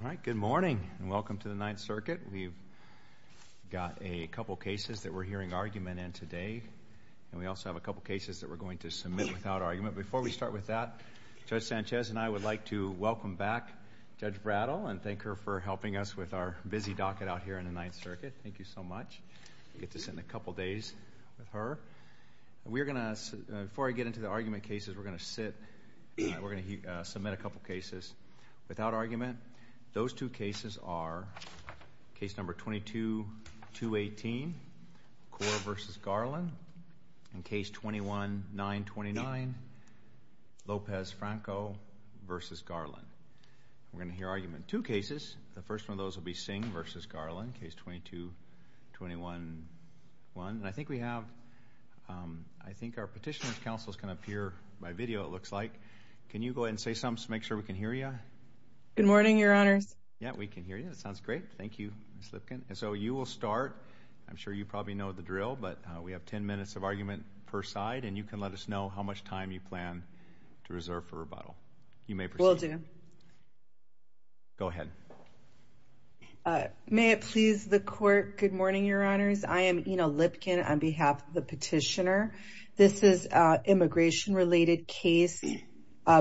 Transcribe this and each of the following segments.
All right, good morning, and welcome to the Ninth Circuit. We've got a couple cases that we're hearing argument in today, and we also have a couple cases that we're going to submit without argument. Before we start with that, Judge Sanchez and I would like to welcome back Judge Brattle and thank her for helping us with our busy docket out here in the Ninth Circuit. Before I get into the argument cases, we're going to sit and we're going to submit a couple cases without argument. Those two cases are case number 22-218, Cora v. Garland, and case 21-929, Lopez-Franco v. Garland. We're going to hear argument in two cases. The first one of those will be a case that we will be submitting without argument. I think our Petitioners' Council can appear by video it looks like. Can you go ahead and say something to make sure we can hear you? Good morning, your honors. Yeah, we can hear you. That sounds great. Thank you, Ms. Lipkin. So you will start. I'm sure you probably know the drill, but we have ten minutes of argument per side, and you can let us know how much time you plan to reserve for rebuttal. You may proceed. Will do. Go ahead. May it please the court. Good morning, your honors. I am Ina Lipkin on behalf of the Petitioner. This is an immigration-related case.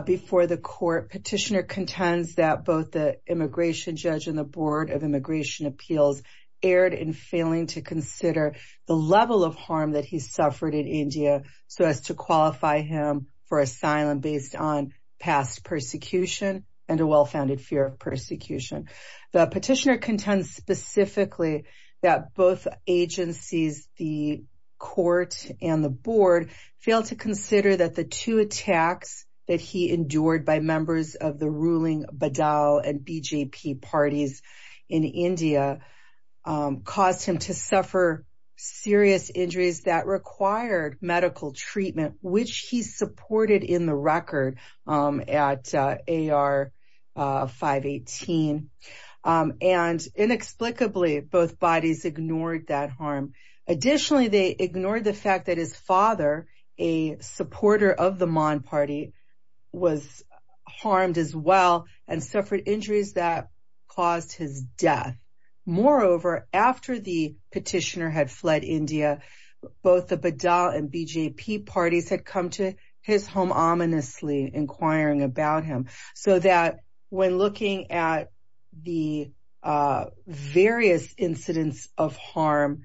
Before the court, Petitioner contends that both the immigration judge and the Board of Immigration Appeals erred in failing to consider the level of harm that he suffered in India so as to qualify him for asylum based on past persecution and a well-founded fear of persecution. The petitioner contends specifically that both agencies, the court and the board, failed to consider that the two attacks that he endured by members of the ruling Badaw and BJP parties in India caused him to suffer serious injuries that required medical treatment, which he supported in the record at AR 518. And inexplicably, both bodies ignored that harm. Additionally, they ignored the fact that his father, a supporter of the Mon party, was harmed as well and suffered injuries that caused his death. Moreover, after the petitioner had fled India, both the Badaw and BJP parties had come to his home ominously inquiring about him so that when looking at the various incidents of harm,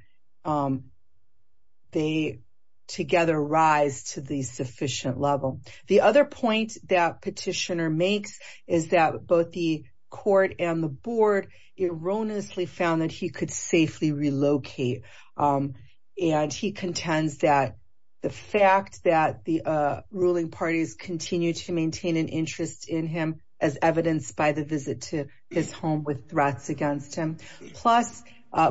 they together rise to the sufficient level. The other point that petitioner makes is that both the court and the board erroneously found that he could safely relocate. And he contends that the fact that the ruling parties continue to maintain an interest in him as evidenced by the visit to his home with threats against him. Plus,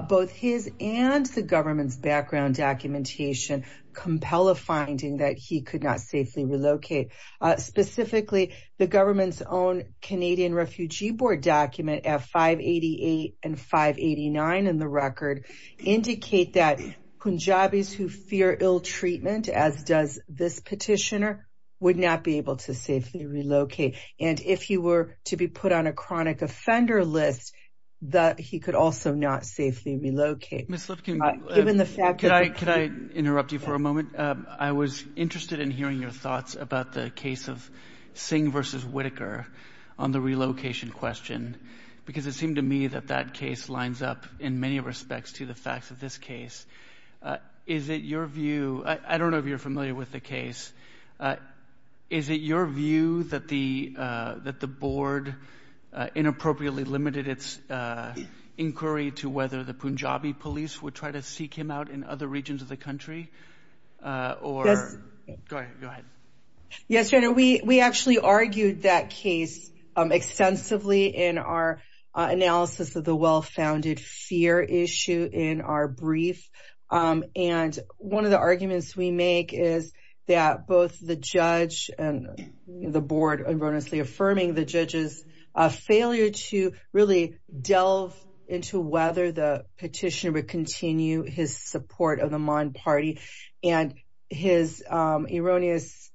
both his and the government's background documentation compel a finding that he could not safely relocate. Specifically, the government's own Canadian Refugee Board document at 588 and 589 in the record indicate that Punjabis who fear ill treatment, as does this petitioner, would not be able to safely relocate. And if he were to be put on a chronic offender list, that he could also not safely relocate. Could I interrupt you for a moment? I was interested in hearing your thoughts about the case of Singh v. Whitaker on the relocation question, because it seemed to me that that case lines up in many respects to the facts of this case. Is it your view — I don't know if you're familiar with the case. Is it your view that the — that the board inappropriately limited its inquiry to whether the Punjabi police would try to seek him out in other regions of the country? Or — Go ahead. Yes, we actually argued that case extensively in our analysis of the well-founded fear issue in our brief. And one of the arguments we make is that both the judge and the board erroneously affirming the judge's failure to really delve into whether the petitioner would continue his support of the Maad Party and his erroneous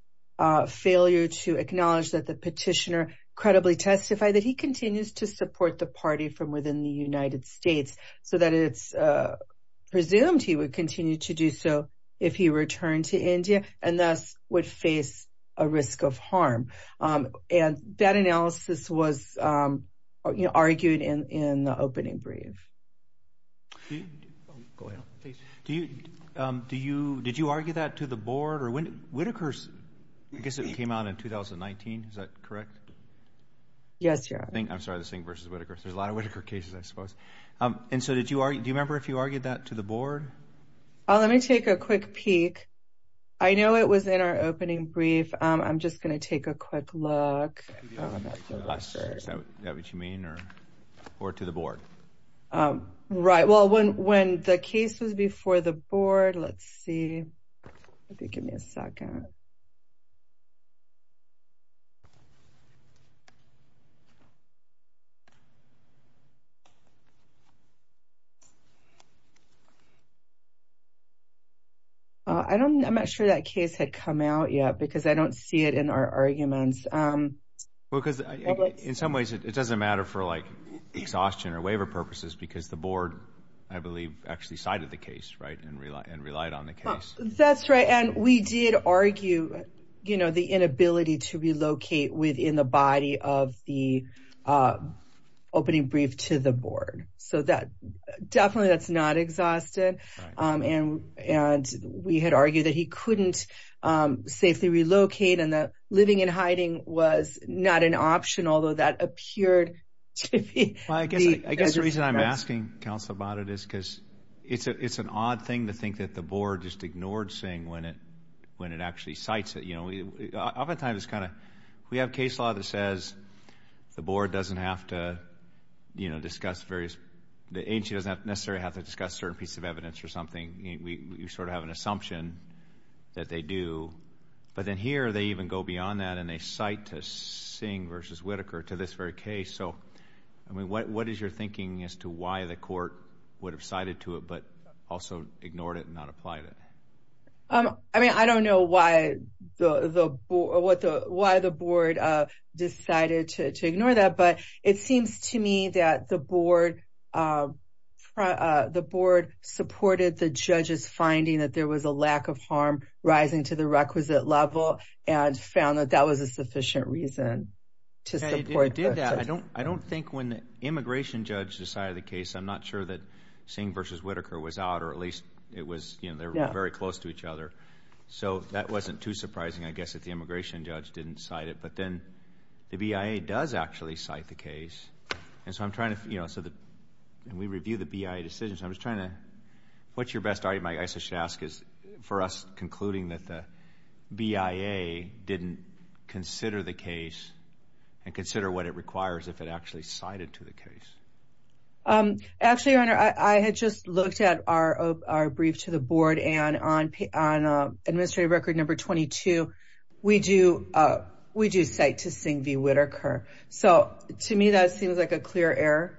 failure to acknowledge that the petitioner credibly testified that he continues to support the party from within the United States, so that it's presumed he would continue to do so if he returned to India and thus would face a risk of harm. And that analysis was, you know, argued in the opening brief. Do you — oh, go ahead, please. Do you — do you — did you argue that to the board? Or when — Whitaker's — I guess it came out in 2019. Is that correct? Yes, Your Honor. I'm sorry, this thing versus Whitaker. There's a lot of Whitaker cases, I suppose. And so did you — do you remember if you argued that to the board? Oh, let me take a quick peek. I know it was in our opening brief. I'm just going to take a quick look. Is that what you mean? Or to the board? Right. Well, when the case was before the board, let's see. Give me a second. I don't — I'm not sure that case had come out yet because I don't see it in our arguments. Well, because in some ways it doesn't matter for, like, exhaustion or waiver purposes because the board, I believe, actually cited the case, right, and relied on the case. That's right. And we did argue, you know, the inability to relocate within the body of the opening brief to the board. So that — definitely that's not exhausted. And we had argued that he couldn't safely relocate and that living in hiding was not an option, although that appeared to be — Well, I guess the reason I'm asking, counsel, about it is because it's an odd thing to think that the board just ignored saying when it actually cites it. You know, oftentimes it's kind of — we have case law that says the board doesn't have to, you know, discuss various — the agency doesn't necessarily have to discuss certain pieces of evidence or something. We sort of have an assumption that they do. But then here they even go beyond that and they cite to Singh versus Whitaker to this very case. So, I mean, what is your thinking as to why the court would have cited to it, but also ignored it and not applied it? I mean, I don't know why the board decided to ignore that, but it seems to me that the board supported the judge's finding that there was a lack of harm rising to the requisite level and found that that was a sufficient reason to support — It did that. I don't think when the immigration judge decided the case, I'm not sure that Singh versus Whitaker was out, or at least it was — you know, they were very close to each other. So that wasn't too surprising, I guess, if the immigration judge didn't cite it. But then the BIA does actually cite the case. And so I'm trying to — you know, when we review the BIA decisions, I'm just trying to — what's your best argument, I should ask, for us concluding that the BIA didn't consider the case and consider what it requires if it actually cited to the case? Actually, your honor, I had just looked at our brief to the board and on administrative record number 22, we do cite to Singh v. Whitaker. So to me, that seems like a clear error.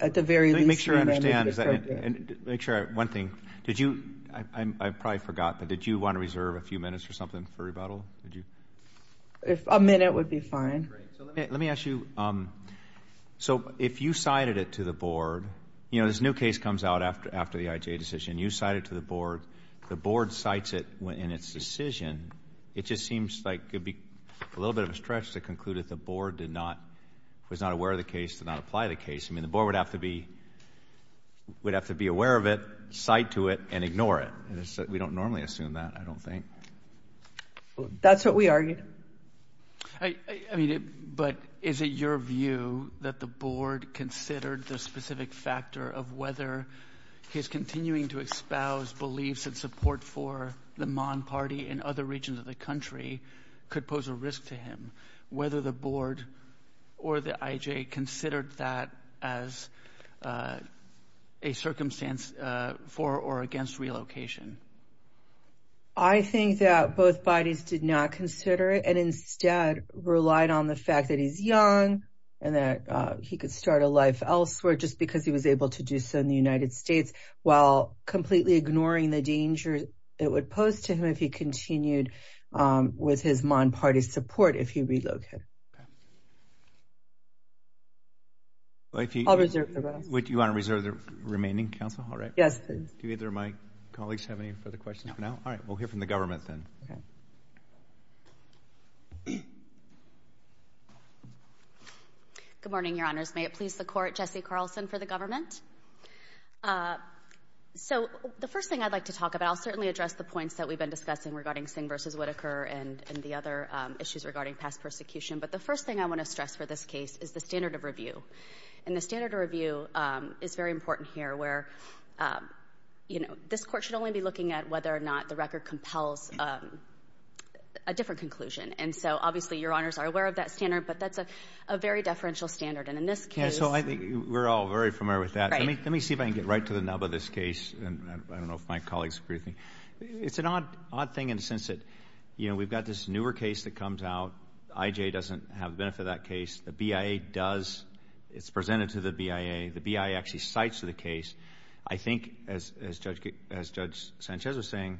At the very least — Let me make sure I understand. Make sure — one thing. Did you — I probably forgot, but did you want to reserve a few minutes or something for rebuttal? Did you? A minute would be fine. Great. So let me ask you, so if you cited it to the board — you know, this new case comes out after the IJ decision. You cite it to the board. The board cites it in its decision. It just seems like it would be a little bit of a stretch to conclude that the board did not — was not aware of the case, did not apply the case. I mean, the board would have to be — would have to be aware of it, cite to it, and ignore it. We don't normally assume that, I don't think. That's what we argued. I mean, but is it your view that the board considered the specific factor of whether his continuing to espouse beliefs and support for the Mon party and other regions of the country could pose a risk to him, whether the board or the IJ considered that as a circumstance for or against relocation? I think that both bodies did not consider it and instead relied on the fact that he's young and that he could start a life elsewhere just because he was able to do so in the United States while completely ignoring the danger it would pose to him if he continued with his Mon party support if he relocated. I'll reserve the rest. Would you want to reserve the remaining counsel? All right. Yes, please. Do either of my colleagues have any further questions for now? All right. We'll hear from the government then. Good morning, your honors. May it please the court, Jesse Carlson for the government. So the first thing I'd like to talk about, I'll certainly address the points that we've been discussing regarding Singh v. Whitaker and the other issues regarding past persecution. But the first thing I want to stress for this case is the standard of review. And the standard of review is very important here where, you know, this Court should only be looking at whether or not the record compels a different conclusion. And so obviously, your honors are aware of that standard, but that's a very deferential standard. And in this case — Yeah, so I think we're all very familiar with that. Right. Let me see if I can get right to the nub of this case. And I don't know if my colleagues agree with me. It's an odd thing in the sense that, you know, we've got this newer case that comes out. IJ doesn't have the benefit of that case. The BIA does. It's presented to the BIA. The BIA actually cites the case. I think, as Judge Sanchez was saying,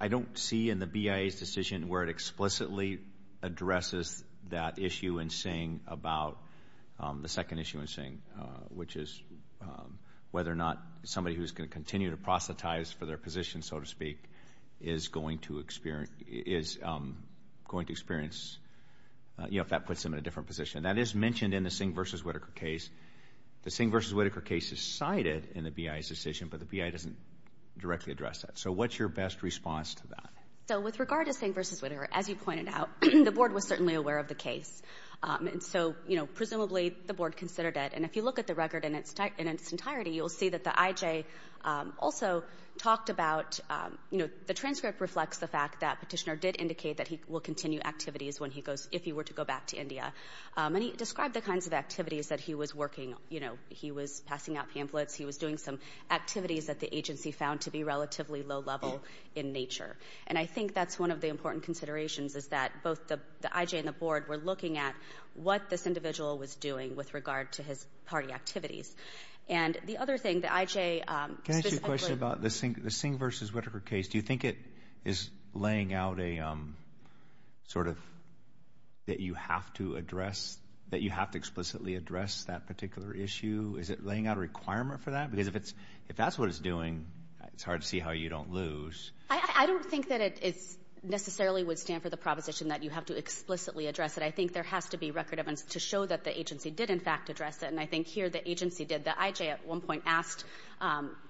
I don't see in the BIA's decision where it explicitly addresses that issue in Singh about the second issue in Singh, which is whether or not somebody who's going to continue to proselytize for their position, so to speak, is going to experience, you know, if that puts them in a different position. That is mentioned in the Singh v. Whitaker case. The Singh v. Whitaker case is cited in the BIA's decision, but the BIA doesn't directly address that. So what's your best response to that? So with regard to Singh v. Whitaker, as you pointed out, the Board was certainly aware of the case. And so, you know, presumably the Board considered it. And if you look at the record in its entirety, you'll see that the IJ also talked about, you know, the transcript reflects the fact that Petitioner did indicate that he will continue activities when he goes, if he were to go back to India. And he described the kinds of activities that he was working, you know, he was passing out pamphlets, he was doing some activities that the agency found to be relatively low level in nature. And I think that's one of the important considerations is that both the IJ and the Board were looking at what this individual was doing with regard to his party activities. And the other thing, the IJ... Can I ask you a question about the Singh v. Whitaker case? Do you think it is laying out a sort of, that you have to address, that you have to explicitly address that particular issue? Is it laying out a requirement for that? Because if that's what it's doing, it's hard to see how you don't lose. I don't think that it necessarily would stand for the proposition that you have to explicitly address it. I think there has to be record evidence to show that the agency did, in fact, address it. And I think here the agency did. The IJ at one point asked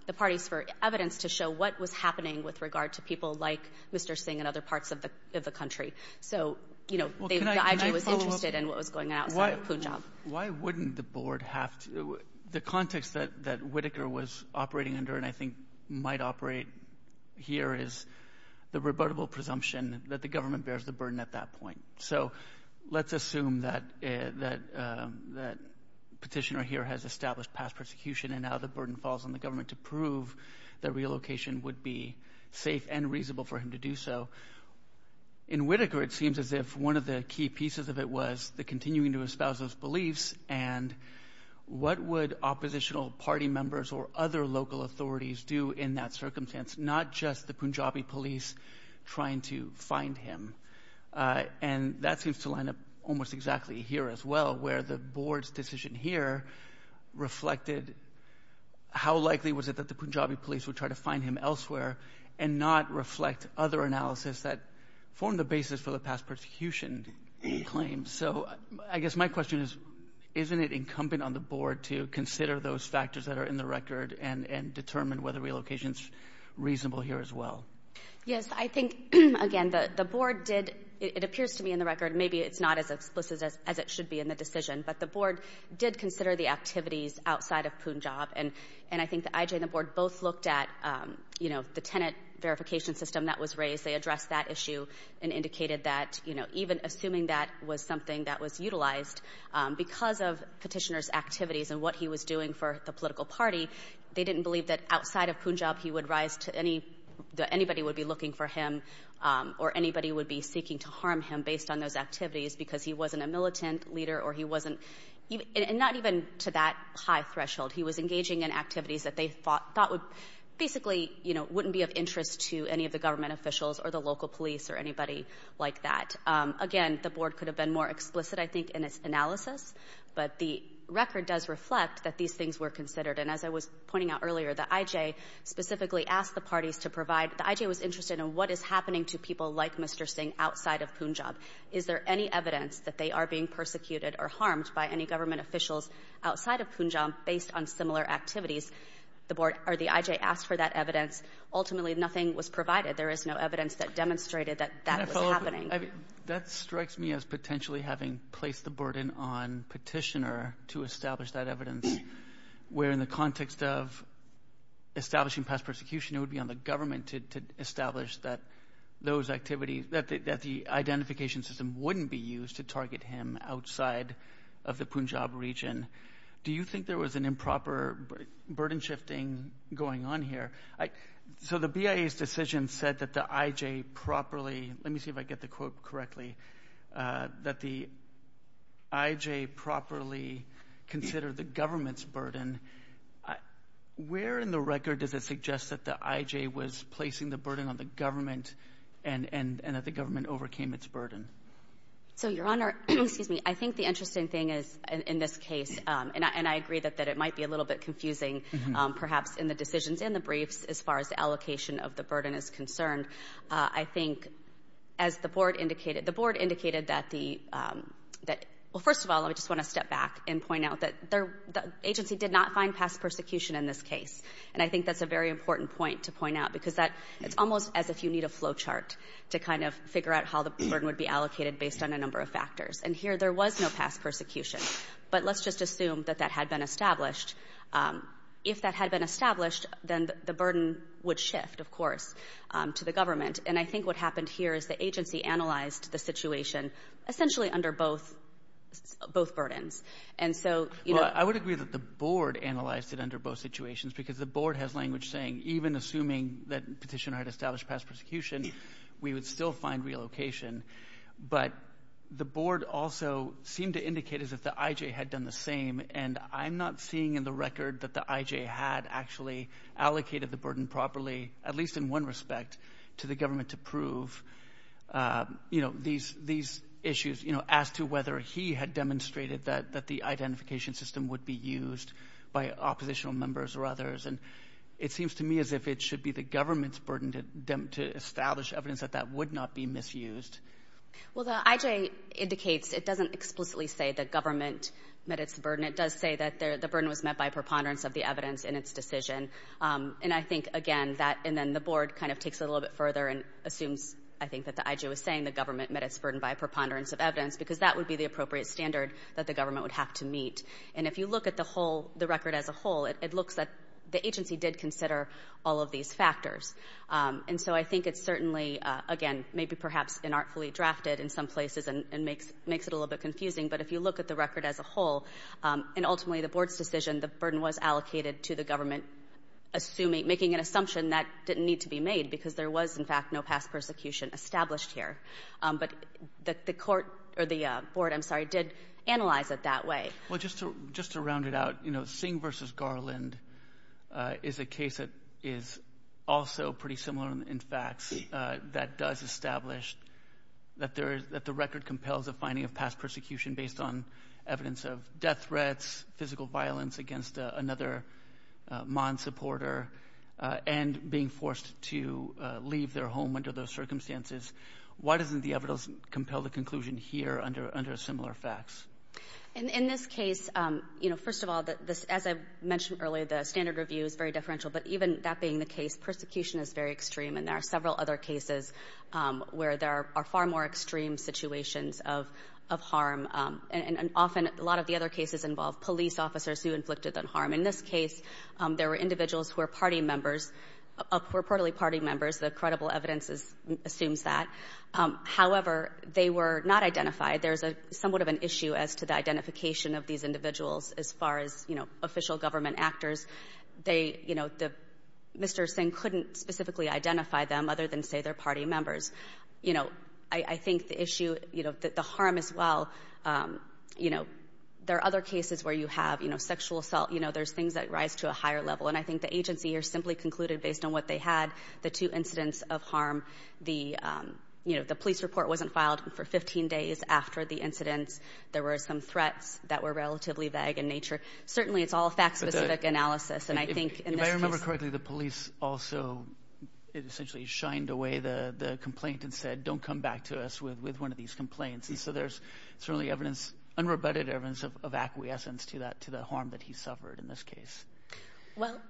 the parties for evidence to show what was happening with regard to people like Mr. Singh in other parts of the country. So, you know, the IJ was interested in what was going on outside of Punjab. Why wouldn't the Board have to, the context that Whitaker was operating under, and I think might operate here is the rebuttable presumption that the government bears the burden at that point. So let's assume that petitioner here has established past persecution and now the burden falls on the government to prove that relocation would be safe and reasonable for him to do so. In Whitaker, it seems as if one of the key pieces of it was the continuing to espouse those beliefs and what would oppositional party members or other local authorities do in that circumstance, not just the Punjabi police trying to find him. And that seems to line up almost exactly here as well, where the Board's decision here reflected how likely was it that the Punjabi police would try to find him elsewhere and not reflect other analysis that formed the basis for the past persecution claim. So I guess my question is, isn't it incumbent on the Board to consider those factors that are in the record and determine whether relocation is reasonable here as well? Yes, I think, again, the Board did, it appears to me in the record, maybe it's not as explicit as it should be in the decision, but the Board did consider the activities outside of Punjab. And I think the IJ and the Board both looked at, you know, the tenant verification system that was raised. They addressed that issue and indicated that, you know, even assuming that was something that was utilized because of petitioner's activities and what he was doing for the political party, they didn't believe that outside of Punjab he would rise to any, that anybody would be looking for him or anybody would be seeking to harm him based on those activities because he wasn't a militant leader or he wasn't, not even to that high threshold. He was engaging in activities that they thought would, basically, you know, wouldn't be of interest to any of the government officials or the local police or anybody like that. Again, the Board could have been more explicit, I think, in its analysis, but the record does reflect that these things were considered. And as I was pointing out earlier, the IJ specifically asked the parties to provide, the IJ was interested in what is happening to people like Mr. Singh outside of Punjab. Is there any evidence that they are being persecuted or harmed by any government officials outside of Punjab based on similar activities? The IJ asked for that evidence. Ultimately, nothing was provided. There is no evidence that demonstrated that that was happening. That strikes me as potentially having placed the burden on petitioner to establish that evidence, where in the context of establishing past persecution, it would be on the government to establish that those activities, that the identification system wouldn't be used to target him outside of the Punjab region. Do you think there was an improper burden shifting going on here? So the BIA's decision said that the IJ properly, let me see if I get the quote correctly, that the IJ properly considered the government's burden. Where in the record does it suggest that the IJ was placing the burden on the government and that the government overcame its burden? So, Your Honor, excuse me, I think the interesting thing is in this case, and I agree that it might be a little bit confusing perhaps in the decisions in the briefs as far as the allocation of the burden is concerned. I think as the board indicated, the board indicated that the, well, first of all, I just want to step back and point out that the agency did not find past persecution in this case. And I think that's a very important point to point out because it's almost as if you need a flow chart to kind of figure out how the burden would be allocated based on a number of factors. And here there was no past persecution, but let's just assume that that had been established. If that had been established, then the burden would shift, of course, to the government. And I think what happened here is the agency analyzed the situation essentially under both burdens. And so, you know... Well, I would agree that the board analyzed it under both situations because the board has language saying even assuming that petitioner had established past persecution, we would still find relocation. But the board also seemed to indicate as if the IJ had done the same. And I'm not seeing in the record that the IJ had actually allocated the burden properly, at least in one respect, to the government to prove, you know, these issues, you know, as to whether he had demonstrated that the identification system would be used by oppositional members or others. And it seems to me as if it should be the to establish evidence that that would not be misused. Well, the IJ indicates it doesn't explicitly say the government met its burden. It does say that the burden was met by preponderance of the evidence in its decision. And I think, again, that... And then the board kind of takes it a little bit further and assumes, I think, that the IJ was saying the government met its burden by preponderance of evidence because that would be the appropriate standard that the government would have to meet. And if you look at the whole, the record as a whole, it looks that the agency did consider all of these factors. And so I think it's certainly, again, maybe perhaps inartfully drafted in some places and makes it a little bit confusing. But if you look at the record as a whole, and ultimately the board's decision, the burden was allocated to the government assuming, making an assumption that didn't need to be made because there was, in fact, no past persecution established here. But the court, or the board, I'm sorry, did analyze it that way. Well, just to round it out, Singh v. Garland is a case that is also pretty similar in facts that does establish that the record compels a finding of past persecution based on evidence of death threats, physical violence against another MOND supporter, and being forced to leave their home under those circumstances. Why doesn't the evidence compel the conclusion here under similar facts? In this case, you know, first of all, as I mentioned earlier, the standard review is very differential. But even that being the case, persecution is very extreme, and there are several other cases where there are far more extreme situations of harm. And often, a lot of the other cases involve police officers who inflicted that harm. In this case, there were individuals who were party members, reportedly party members. The credible evidence assumes that. However, they were not identified. There's a somewhat of an issue as to the identification of these individuals as far as, you know, official government actors. They, you know, Mr. Singh couldn't specifically identify them other than, say, their party members. You know, I think the issue, you know, the harm as well, you know, there are other cases where you have, you know, sexual assault. You know, there's things that rise to a higher level. And I think the agency here simply concluded based on what they had, the two incidents of harm, the, you know, the police report wasn't filed for 15 days after the incidents. There were some threats that were relatively vague in nature. Certainly, it's all fact-specific analysis. And I think in this case... If I remember correctly, the police also essentially shined away the complaint and said, don't come back to us with one of these complaints. And so there's certainly evidence, unrebutted evidence of acquiescence to that, to the harm that he suffered in this case. Well,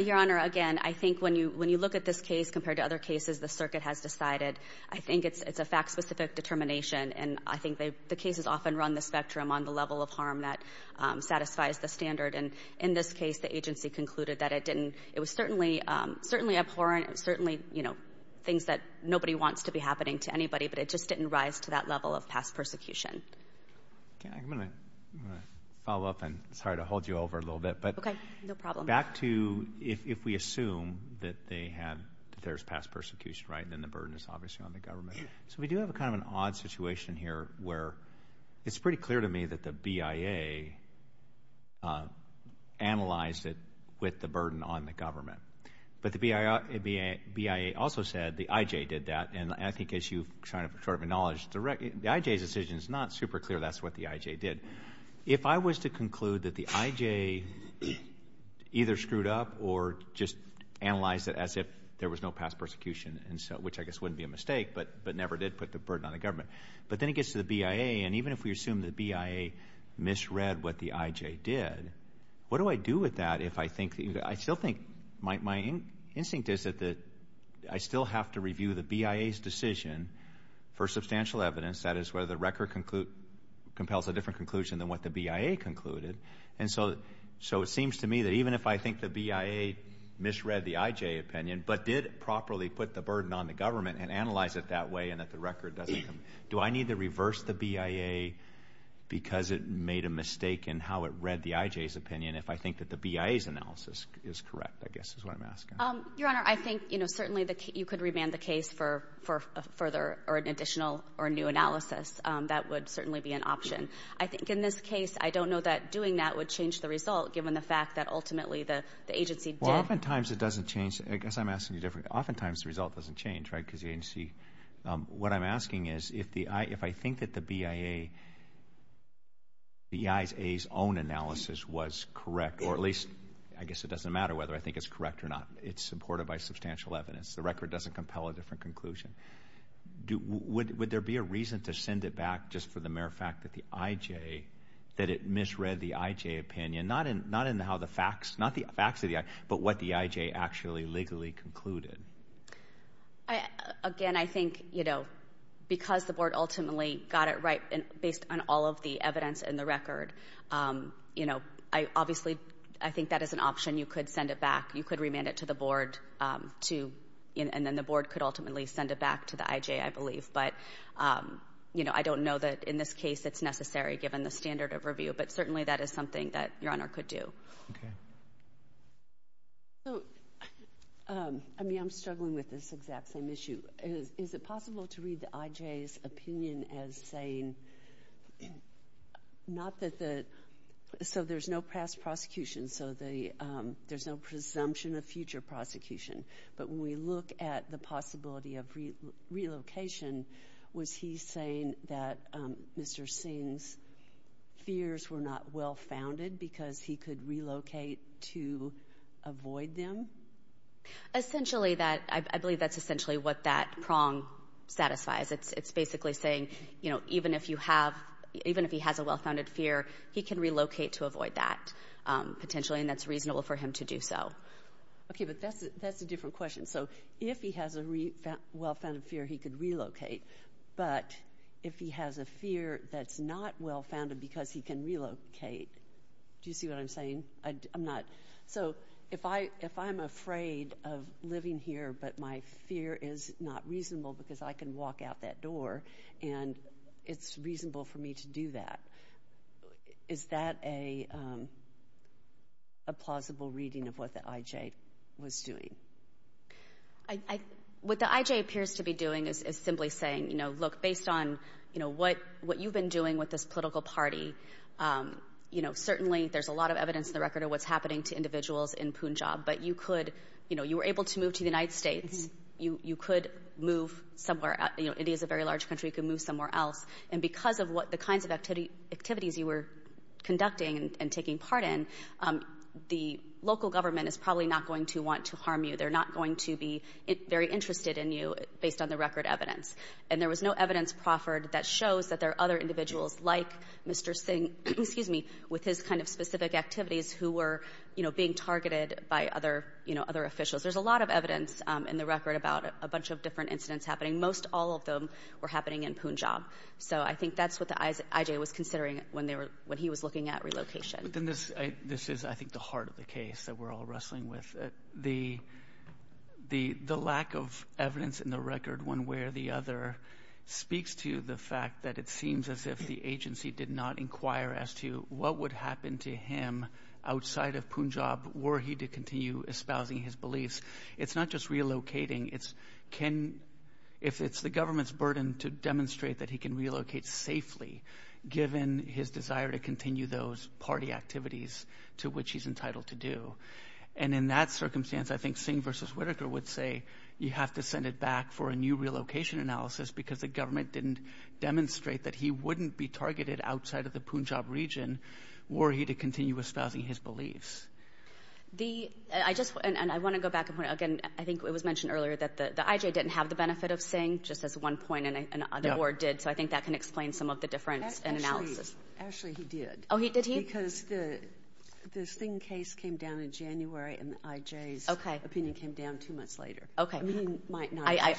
Your Honor, again, I think when you look at this case compared to other cases the circuit has decided, I think it's a fact-specific determination. And I think the cases often run the spectrum on the level of harm that satisfies the standard. And in this case, the agency concluded that it didn't... It was certainly abhorrent, certainly, you know, things that nobody wants to be happening to anybody, but it just didn't rise to that level of past persecution. Okay, I'm going to follow up, and sorry to hold you over a little bit. Okay, no problem. But back to... If we assume that they have... That there's past persecution, right? Then the burden is obviously on the government. So we do have a kind of an odd situation here where it's pretty clear to me that the BIA analyzed it with the burden on the government. But the BIA also said the IJ did that. And I think as you've kind of sort of acknowledged, the IJ's decision is not super clear that's what the IJ did. If I was to conclude that the IJ either screwed up or just analyzed it as if there was no past persecution, which I guess wouldn't be a mistake, but never did put the burden on the government. But then it gets to the BIA, and even if we assume the BIA misread what the IJ did, what do I do with that if I think... I still think... My instinct is that I still have to review the BIA's decision for substantial evidence, that is, whether the record compels a different conclusion than what the BIA concluded. And so it seems to me that even if I think the BIA misread the IJ opinion, but did properly put the burden on the government and analyze it that way and that the record doesn't... Do I need to reverse the BIA because it made a mistake in how it read the IJ's opinion if I think that the BIA's analysis is correct, I guess is what I'm asking. Your Honor, I think certainly you could remand the case for an additional or new analysis. That would certainly be an option. I think in this case, I don't know that doing that would change the result given the fact that ultimately the agency did. Well, oftentimes it doesn't change. I guess I'm asking you differently. Oftentimes the result doesn't change, right, because the agency... What I'm asking is if I think that the BIA's own analysis was correct, or at least I guess it doesn't matter whether I think it's correct or not, it's supported by substantial evidence. The record doesn't compel a different conclusion. Would there be a reason to send it back just for the mere fact that the IJ, that it misread the IJ opinion, not in how the facts, not the facts of the IJ, but what the IJ actually legally concluded? Again, I think because the board ultimately got it right based on all of the evidence and the record, obviously I think that is an option. You could send it back. You could remand it to the board to... And then the board could ultimately send it back to the IJ, I believe. But I don't know that in this case it's necessary given the standard of review, but certainly that is something that Your Honor could do. Okay. So, I mean, I'm struggling with this exact same issue. Is it possible to read the IJ's opinion as saying, so there's no past prosecution, so there's no presumption of future prosecution, but when we look at the possibility of relocation, was he saying that Mr. Singh's fears were not well-founded because he could relocate to avoid them? Essentially that, I believe that's essentially what that prong satisfies. It's basically saying, you know, even if you have, even if he has a well-founded fear, he can relocate to avoid that potentially, and that's reasonable for him to do so. Okay, but that's a different question. So if he has a well-founded fear, he could relocate, but if he has a fear that's not well-founded because he can relocate, do you see what I'm saying? So if I'm afraid of living here but my fear is not reasonable because I can walk out that door and it's reasonable for me to do that, is that a plausible reading of what the IJ was doing? What the IJ appears to be doing is simply saying, you know, look, based on what you've been doing with this political party, you know, certainly there's a lot of evidence in the record of what's happening to individuals in Punjab, but you could, you know, you were able to move to the United States. You could move somewhere, you know, it is a very large country, you could move somewhere else, and because of what the kinds of activities you were conducting and taking part in, the local government is probably not going to want to harm you. They're not going to be very interested in you based on the record evidence, and there was no evidence proffered that shows that there are other individuals like Mr. Singh, excuse me, with his kind of specific activities who were, you know, being targeted by other, you know, other officials. There's a lot of evidence in the record about a bunch of different incidents happening. Most all of them were happening in Punjab, so I think that's what the IJ was considering when he was looking at relocation. But then this is, I think, the heart of the case that we're all wrestling with. The lack of evidence in the record, one way or the other, speaks to the fact that it seems as if the agency did not inquire as to what would happen to him outside of Punjab were he to continue espousing his beliefs. It's not just relocating, it's can, if it's the government's burden to demonstrate that he can relocate safely given his desire to continue those party activities to which he's entitled to do. And in that circumstance, I think Singh versus Whitaker would say you have to send it back for a new relocation analysis because the government didn't demonstrate that he wouldn't be targeted outside of the Punjab region were he to continue espousing his beliefs. The, I just, and I want to go back a point, again, I think it was mentioned earlier that the IJ didn't have the benefit of Singh, just as one point in the board did, so I think that can explain some of the difference in analysis. Actually, he did. Because the Singh case came down in January and the IJ's opinion came down two months later. I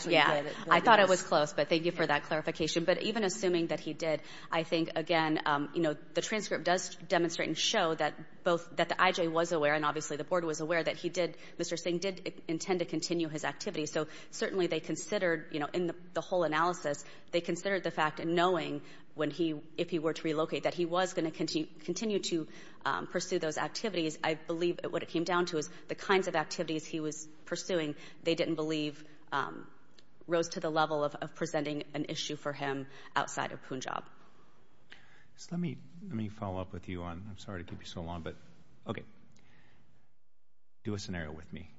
thought it was close, but thank you for that clarification. But even assuming that he did, I think, again, you know, the transcript does demonstrate and show that both, that the IJ was aware and obviously the board was aware that he did, Mr. Singh did intend to continue his activities. So certainly they considered, you know, in the whole analysis, they considered the fact and knowing when he, if he were to relocate, that he was going to continue to pursue those activities. I believe what it came down to is the kinds of activities he was pursuing they didn't believe rose to the level of presenting an issue for him outside of Punjab. So let me, let me follow up with you on, I'm sorry to keep you so long, but, okay, do a scenario with me.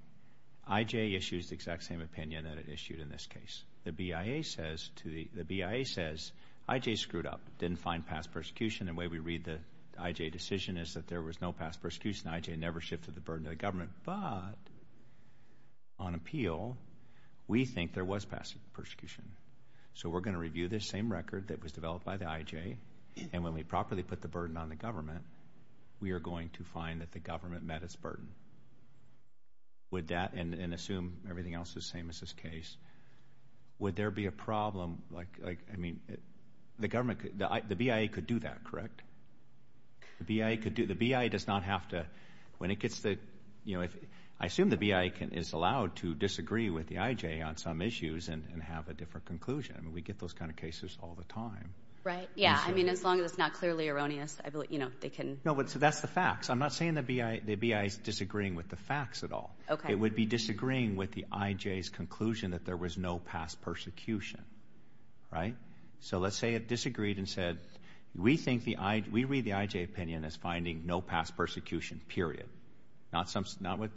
IJ issues the exact same opinion that it issued in this case. The BIA says to the, the BIA says IJ screwed up, didn't find past persecution. The way we read the IJ decision is that there was no past persecution. IJ never shifted the burden to the government. But on appeal, we think there was past persecution. So we're going to review this same record that was developed by the IJ and when we properly put the burden on the government, we are going to find that the government met its burden. Would that, and assume everything else is the same as this case, would there be a problem like, I mean, the government, the BIA could do that, correct? The BIA could do, the BIA does not have to, when it gets the, you know, I assume the BIA can, is allowed to disagree with the IJ on some issues and have a different conclusion. I mean, we get those kind of cases all the time. Right, yeah, I mean, as long as it's not clearly erroneous, I believe, you know, they can. No, but that's the facts. I'm not saying the BIA, the BIA is the facts at all. Okay. It would be disagreeing with the IJ's conclusion that there was no past persecution, right? So let's say it disagreed and said, we think the I, we read the IJ opinion as finding no past persecution, period. Not some, not with,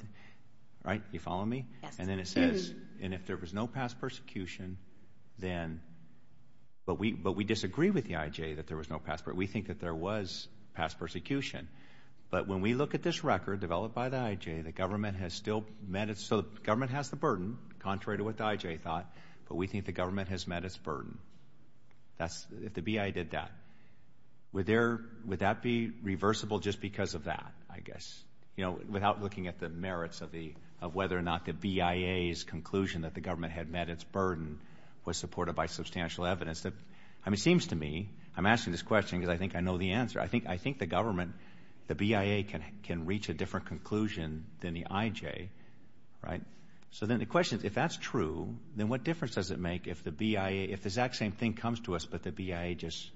right, you follow me? Yes. And then it says, and if there was no past persecution, then, but we, but we disagree with the IJ that there was no past, but we think that there was past persecution. But when we look at this record developed by the IJ, the government has still met its, so the government has the burden, contrary to what the IJ thought, but we think the government has met its burden. That's, if the BIA did that, would there, would that be reversible just because of that, I guess, you know, without looking at the merits of the, of whether or not the BIA's conclusion that the government had met its burden was supported by substantial evidence that, I mean, it seems to me, I'm asking this question because I think I know the answer. I think, I think the government, the BIA can, can reach a different conclusion than the IJ, right? So then the question is, if that's true, then what difference does it make if the BIA, if the exact same thing comes to us, but the BIA just,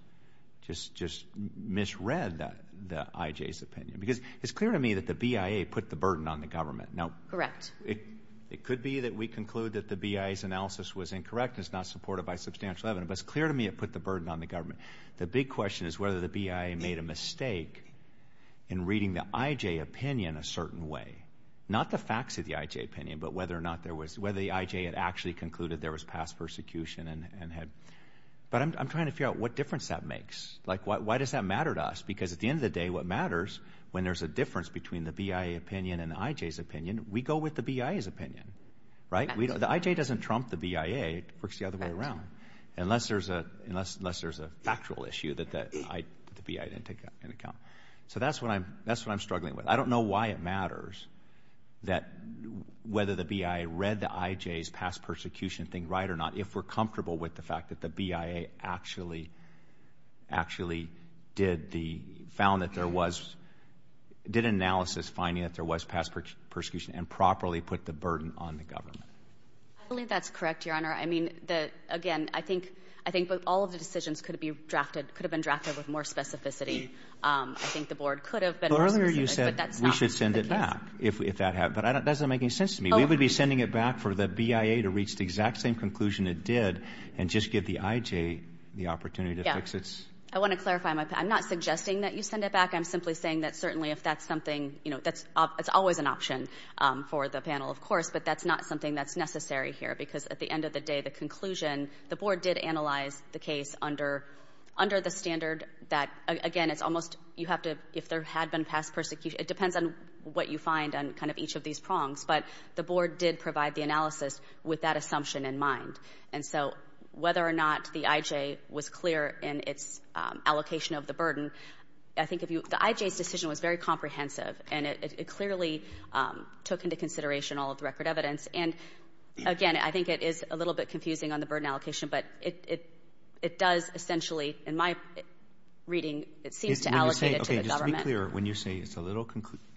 just, just misread that, the IJ's opinion? Because it's clear to me that the BIA put the burden on the government. Now, correct. It, it could be that we conclude that the BIA's analysis was incorrect. It's not supported by substantial evidence, but it's clear to me it the burden on the government. The big question is whether the BIA made a mistake in reading the IJ opinion a certain way, not the facts of the IJ opinion, but whether or not there was, whether the IJ had actually concluded there was past persecution and, and had, but I'm, I'm trying to figure out what difference that makes. Like, why, why does that matter to us? Because at the end of the day, what matters when there's a difference between the BIA opinion and the IJ's opinion, we go with the BIA's opinion, right? We don't, the IJ doesn't trump the BIA. It works the other way around. Unless there's a, unless, unless there's a factual issue that, that I, the BIA didn't take that into account. So that's what I'm, that's what I'm struggling with. I don't know why it matters that, whether the BIA read the IJ's past persecution thing right or not, if we're comfortable with the fact that the BIA actually, actually did the, found that there was, did analysis finding that there was past persecution and properly put the burden on the government. I believe that's correct, Your Honor. I mean, the, again, I think, I think all of the decisions could have been drafted, could have been drafted with more specificity. I think the board could have been more specific, but that's not the case. But earlier you said we should send it back if, if that happened, but I don't, that doesn't make any sense to me. We would be sending it back for the BIA to reach the exact same conclusion it did and just give the IJ the opportunity to fix its. I want to clarify my, I'm not suggesting that you send it back. I'm simply saying that certainly if that's something, you know, that's, it's always an option for the panel, of course, but that's not something that's necessary here because at the end of the day, the conclusion, the board did analyze the case under, under the standard that, again, it's almost, you have to, if there had been past persecution, it depends on what you find on kind of each of these prongs, but the board did provide the analysis with that assumption in mind. And so whether or not the IJ was clear in its allocation of the burden, I think if you, the IJ's decision was very comprehensive and it clearly took into consideration all of the record evidence. And again, I think it is a little bit confusing on the burden allocation, but it, it does essentially, in my reading, it seems to allocate it to the government. Okay, just to be clear, when you say it's a little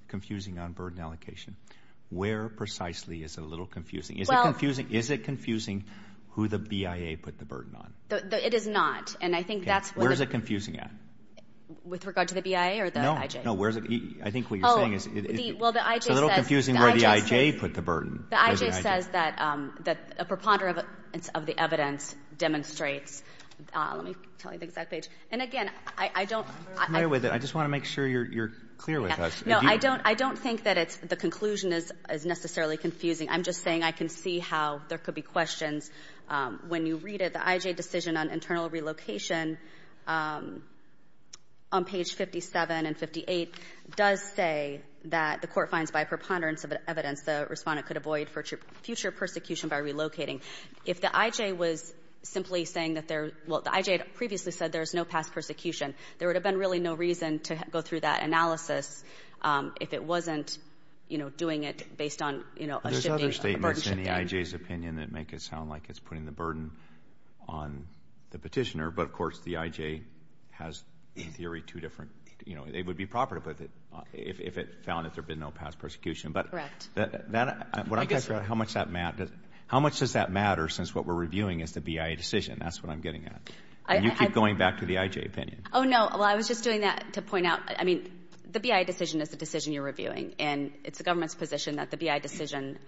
confusing on burden allocation, where precisely is a little confusing? Is it confusing, is it confusing who the BIA put the burden on? It is not, and I think that's... Where is it confusing at? With regard to the BIA or the IJ? No, no, where's it, I think what you're saying is... Oh, the, well, the IJ says... It's a little confusing where the IJ put the burden. The IJ says that, that a preponderance of the evidence demonstrates, let me tell you the exact page, and again, I don't... I'm familiar with it, I just want to make sure you're, you're clear with us. No, I don't, I don't think that it's, the conclusion is, is necessarily confusing. I'm just saying I can see how there could be questions. When you read it, the IJ decision on internal relocation, on page 57 and 58, does say that the court finds by preponderance of evidence the Respondent could avoid future persecution by relocating. If the IJ was simply saying that there, well, the IJ had previously said there's no past persecution, there would have been really no reason to go through that analysis if it wasn't, you know, doing it based on, you know, a shifting, a burden shifting. There's other statements in the IJ's opinion that make it sound like it's putting the burden on the petitioner, but of course, the IJ has, in theory, two different, you know, it would be proper to put it, if it found that there'd been no past persecution, but... Correct. That, when I'm talking about how much that matters, how much does that matter since what we're reviewing is the BIA decision? That's what I'm getting at. And you keep going back to the IJ opinion. Oh, no. Well, I was just doing that to point out, I mean, the BIA decision is the decision you're reviewing, and it's the government's position that the BIA decision,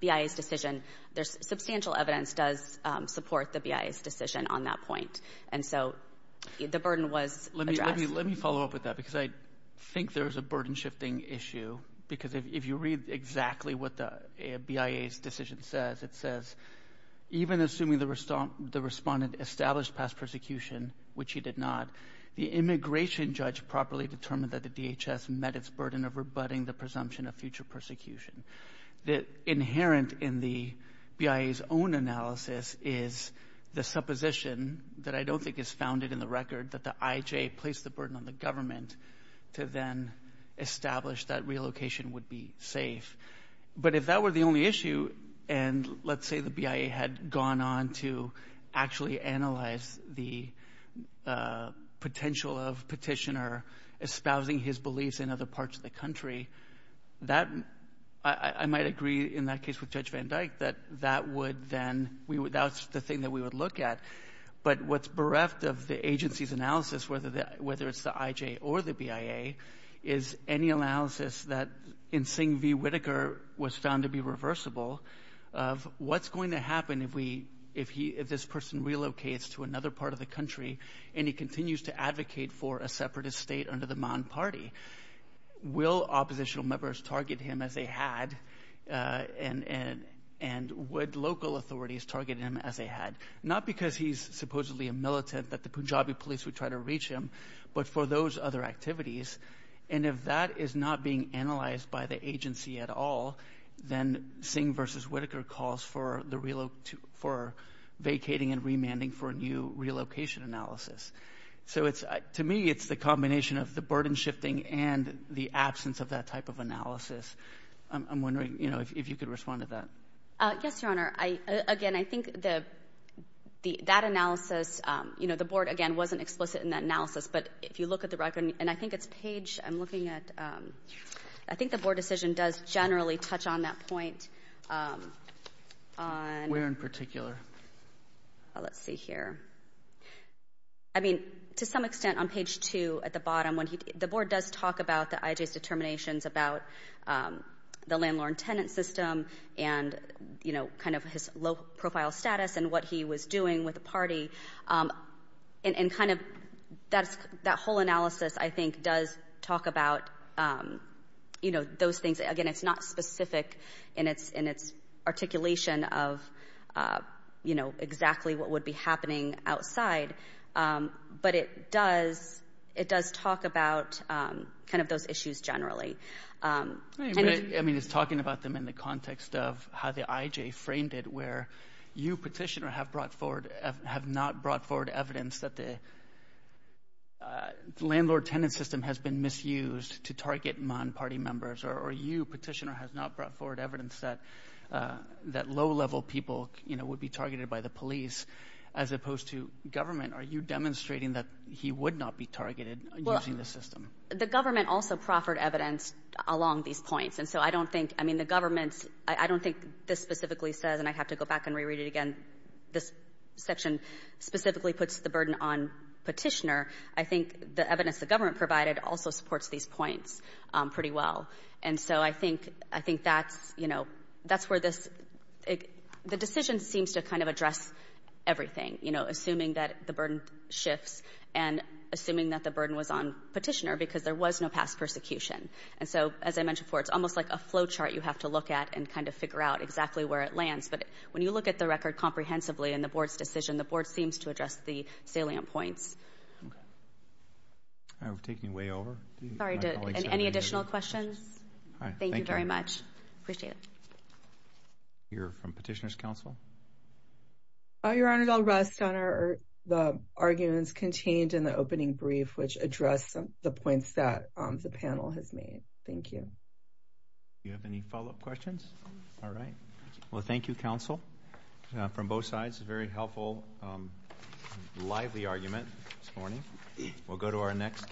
BIA's decision, there's substantial evidence does support the BIA's decision on that point. And so, the burden was addressed. Let me follow up with that, because I think there's a burden shifting issue, because if you read exactly what the BIA's decision says, it says, even assuming the respondent established past persecution, which he did not, the immigration judge properly determined that the DHS met its burden of rebutting the presumption of future persecution. The inherent in the BIA's own analysis is the supposition that I don't think is founded in the record that the IJ placed the burden on the government to then establish that relocation would be safe. But if that were the only issue, and let's say the BIA had gone on to actually analyze the potential of petitioner espousing his beliefs in other parts of the country, that, I might agree in that case with Judge Van Dyke, that that would then, that's the thing that we would look at. But what's bereft of the agency's analysis, whether it's the IJ or the BIA, is any analysis that in Singh v. Whitaker was found to be reversible of what's going to happen if he, if this person relocates to another part of the country and he continues to advocate for a separatist state under the Man Party. Will oppositional members target him as they had, and would local authorities target him as they had? Not because he's supposedly a militant that the Punjabi police would try to reach him, but for those other activities. And if that is not being analyzed by the agency at all, then Singh v. Whitaker calls for the, for vacating and remanding for a new relocation analysis. So it's, to me, it's the combination of the burden shifting and the absence of that type of analysis. I'm wondering, you know, if you could respond to that. Yes, Your Honor. I, again, I think the, the, that analysis, you know, the board, again, wasn't explicit in that analysis. But if you look at the record, and I think it's page, I'm looking at, I think the board decision does generally touch on that point. Where in particular? Let's see here. I mean, to some extent on page two at the bottom, when he, the board does talk about the IJ's determinations about the landlord-tenant system and, you know, kind of his low-profile status and what he was doing with the party. And, and kind of that's, that whole analysis, I think, does talk about, you know, those things. Again, it's not specific in its, in its articulation of, you know, exactly what would be happening outside. But it does, it does talk about kind of those issues generally. I mean, it's talking about them in the context of how the IJ framed it, where you, petitioner, have brought forward, have not brought forward evidence that the landlord-tenant system has been misused to target non-party members. Or you, petitioner, has not brought forward evidence that, that low-level people, you know, would be targeted by the police, as opposed to government. Are you demonstrating that he would not be targeted using the system? Well, the government also proffered evidence along these points. And so, I don't think, I mean, the government's, I don't think this specifically says, and I have to go and reread it again, this section specifically puts the burden on petitioner. I think the evidence the government provided also supports these points pretty well. And so, I think, I think that's, you know, that's where this, the decision seems to kind of address everything, you know, assuming that the burden shifts and assuming that the burden was on petitioner, because there was no past persecution. And so, as I mentioned before, it's almost like a flow chart you have to look at and kind of figure out exactly where it lands. But when you look at the record comprehensively in the board's decision, the board seems to address the salient points. Okay. All right, we're taking way over. Sorry, any additional questions? All right. Thank you very much. Appreciate it. Hear from Petitioner's Council. Oh, Your Honor, I'll rest on the arguments contained in the opening brief, which address the points that the panel has made. Thank you. You have any follow-up questions? All right. Well, thank you, counsel. From both sides, a very helpful, lively argument this morning. We'll go to our next case.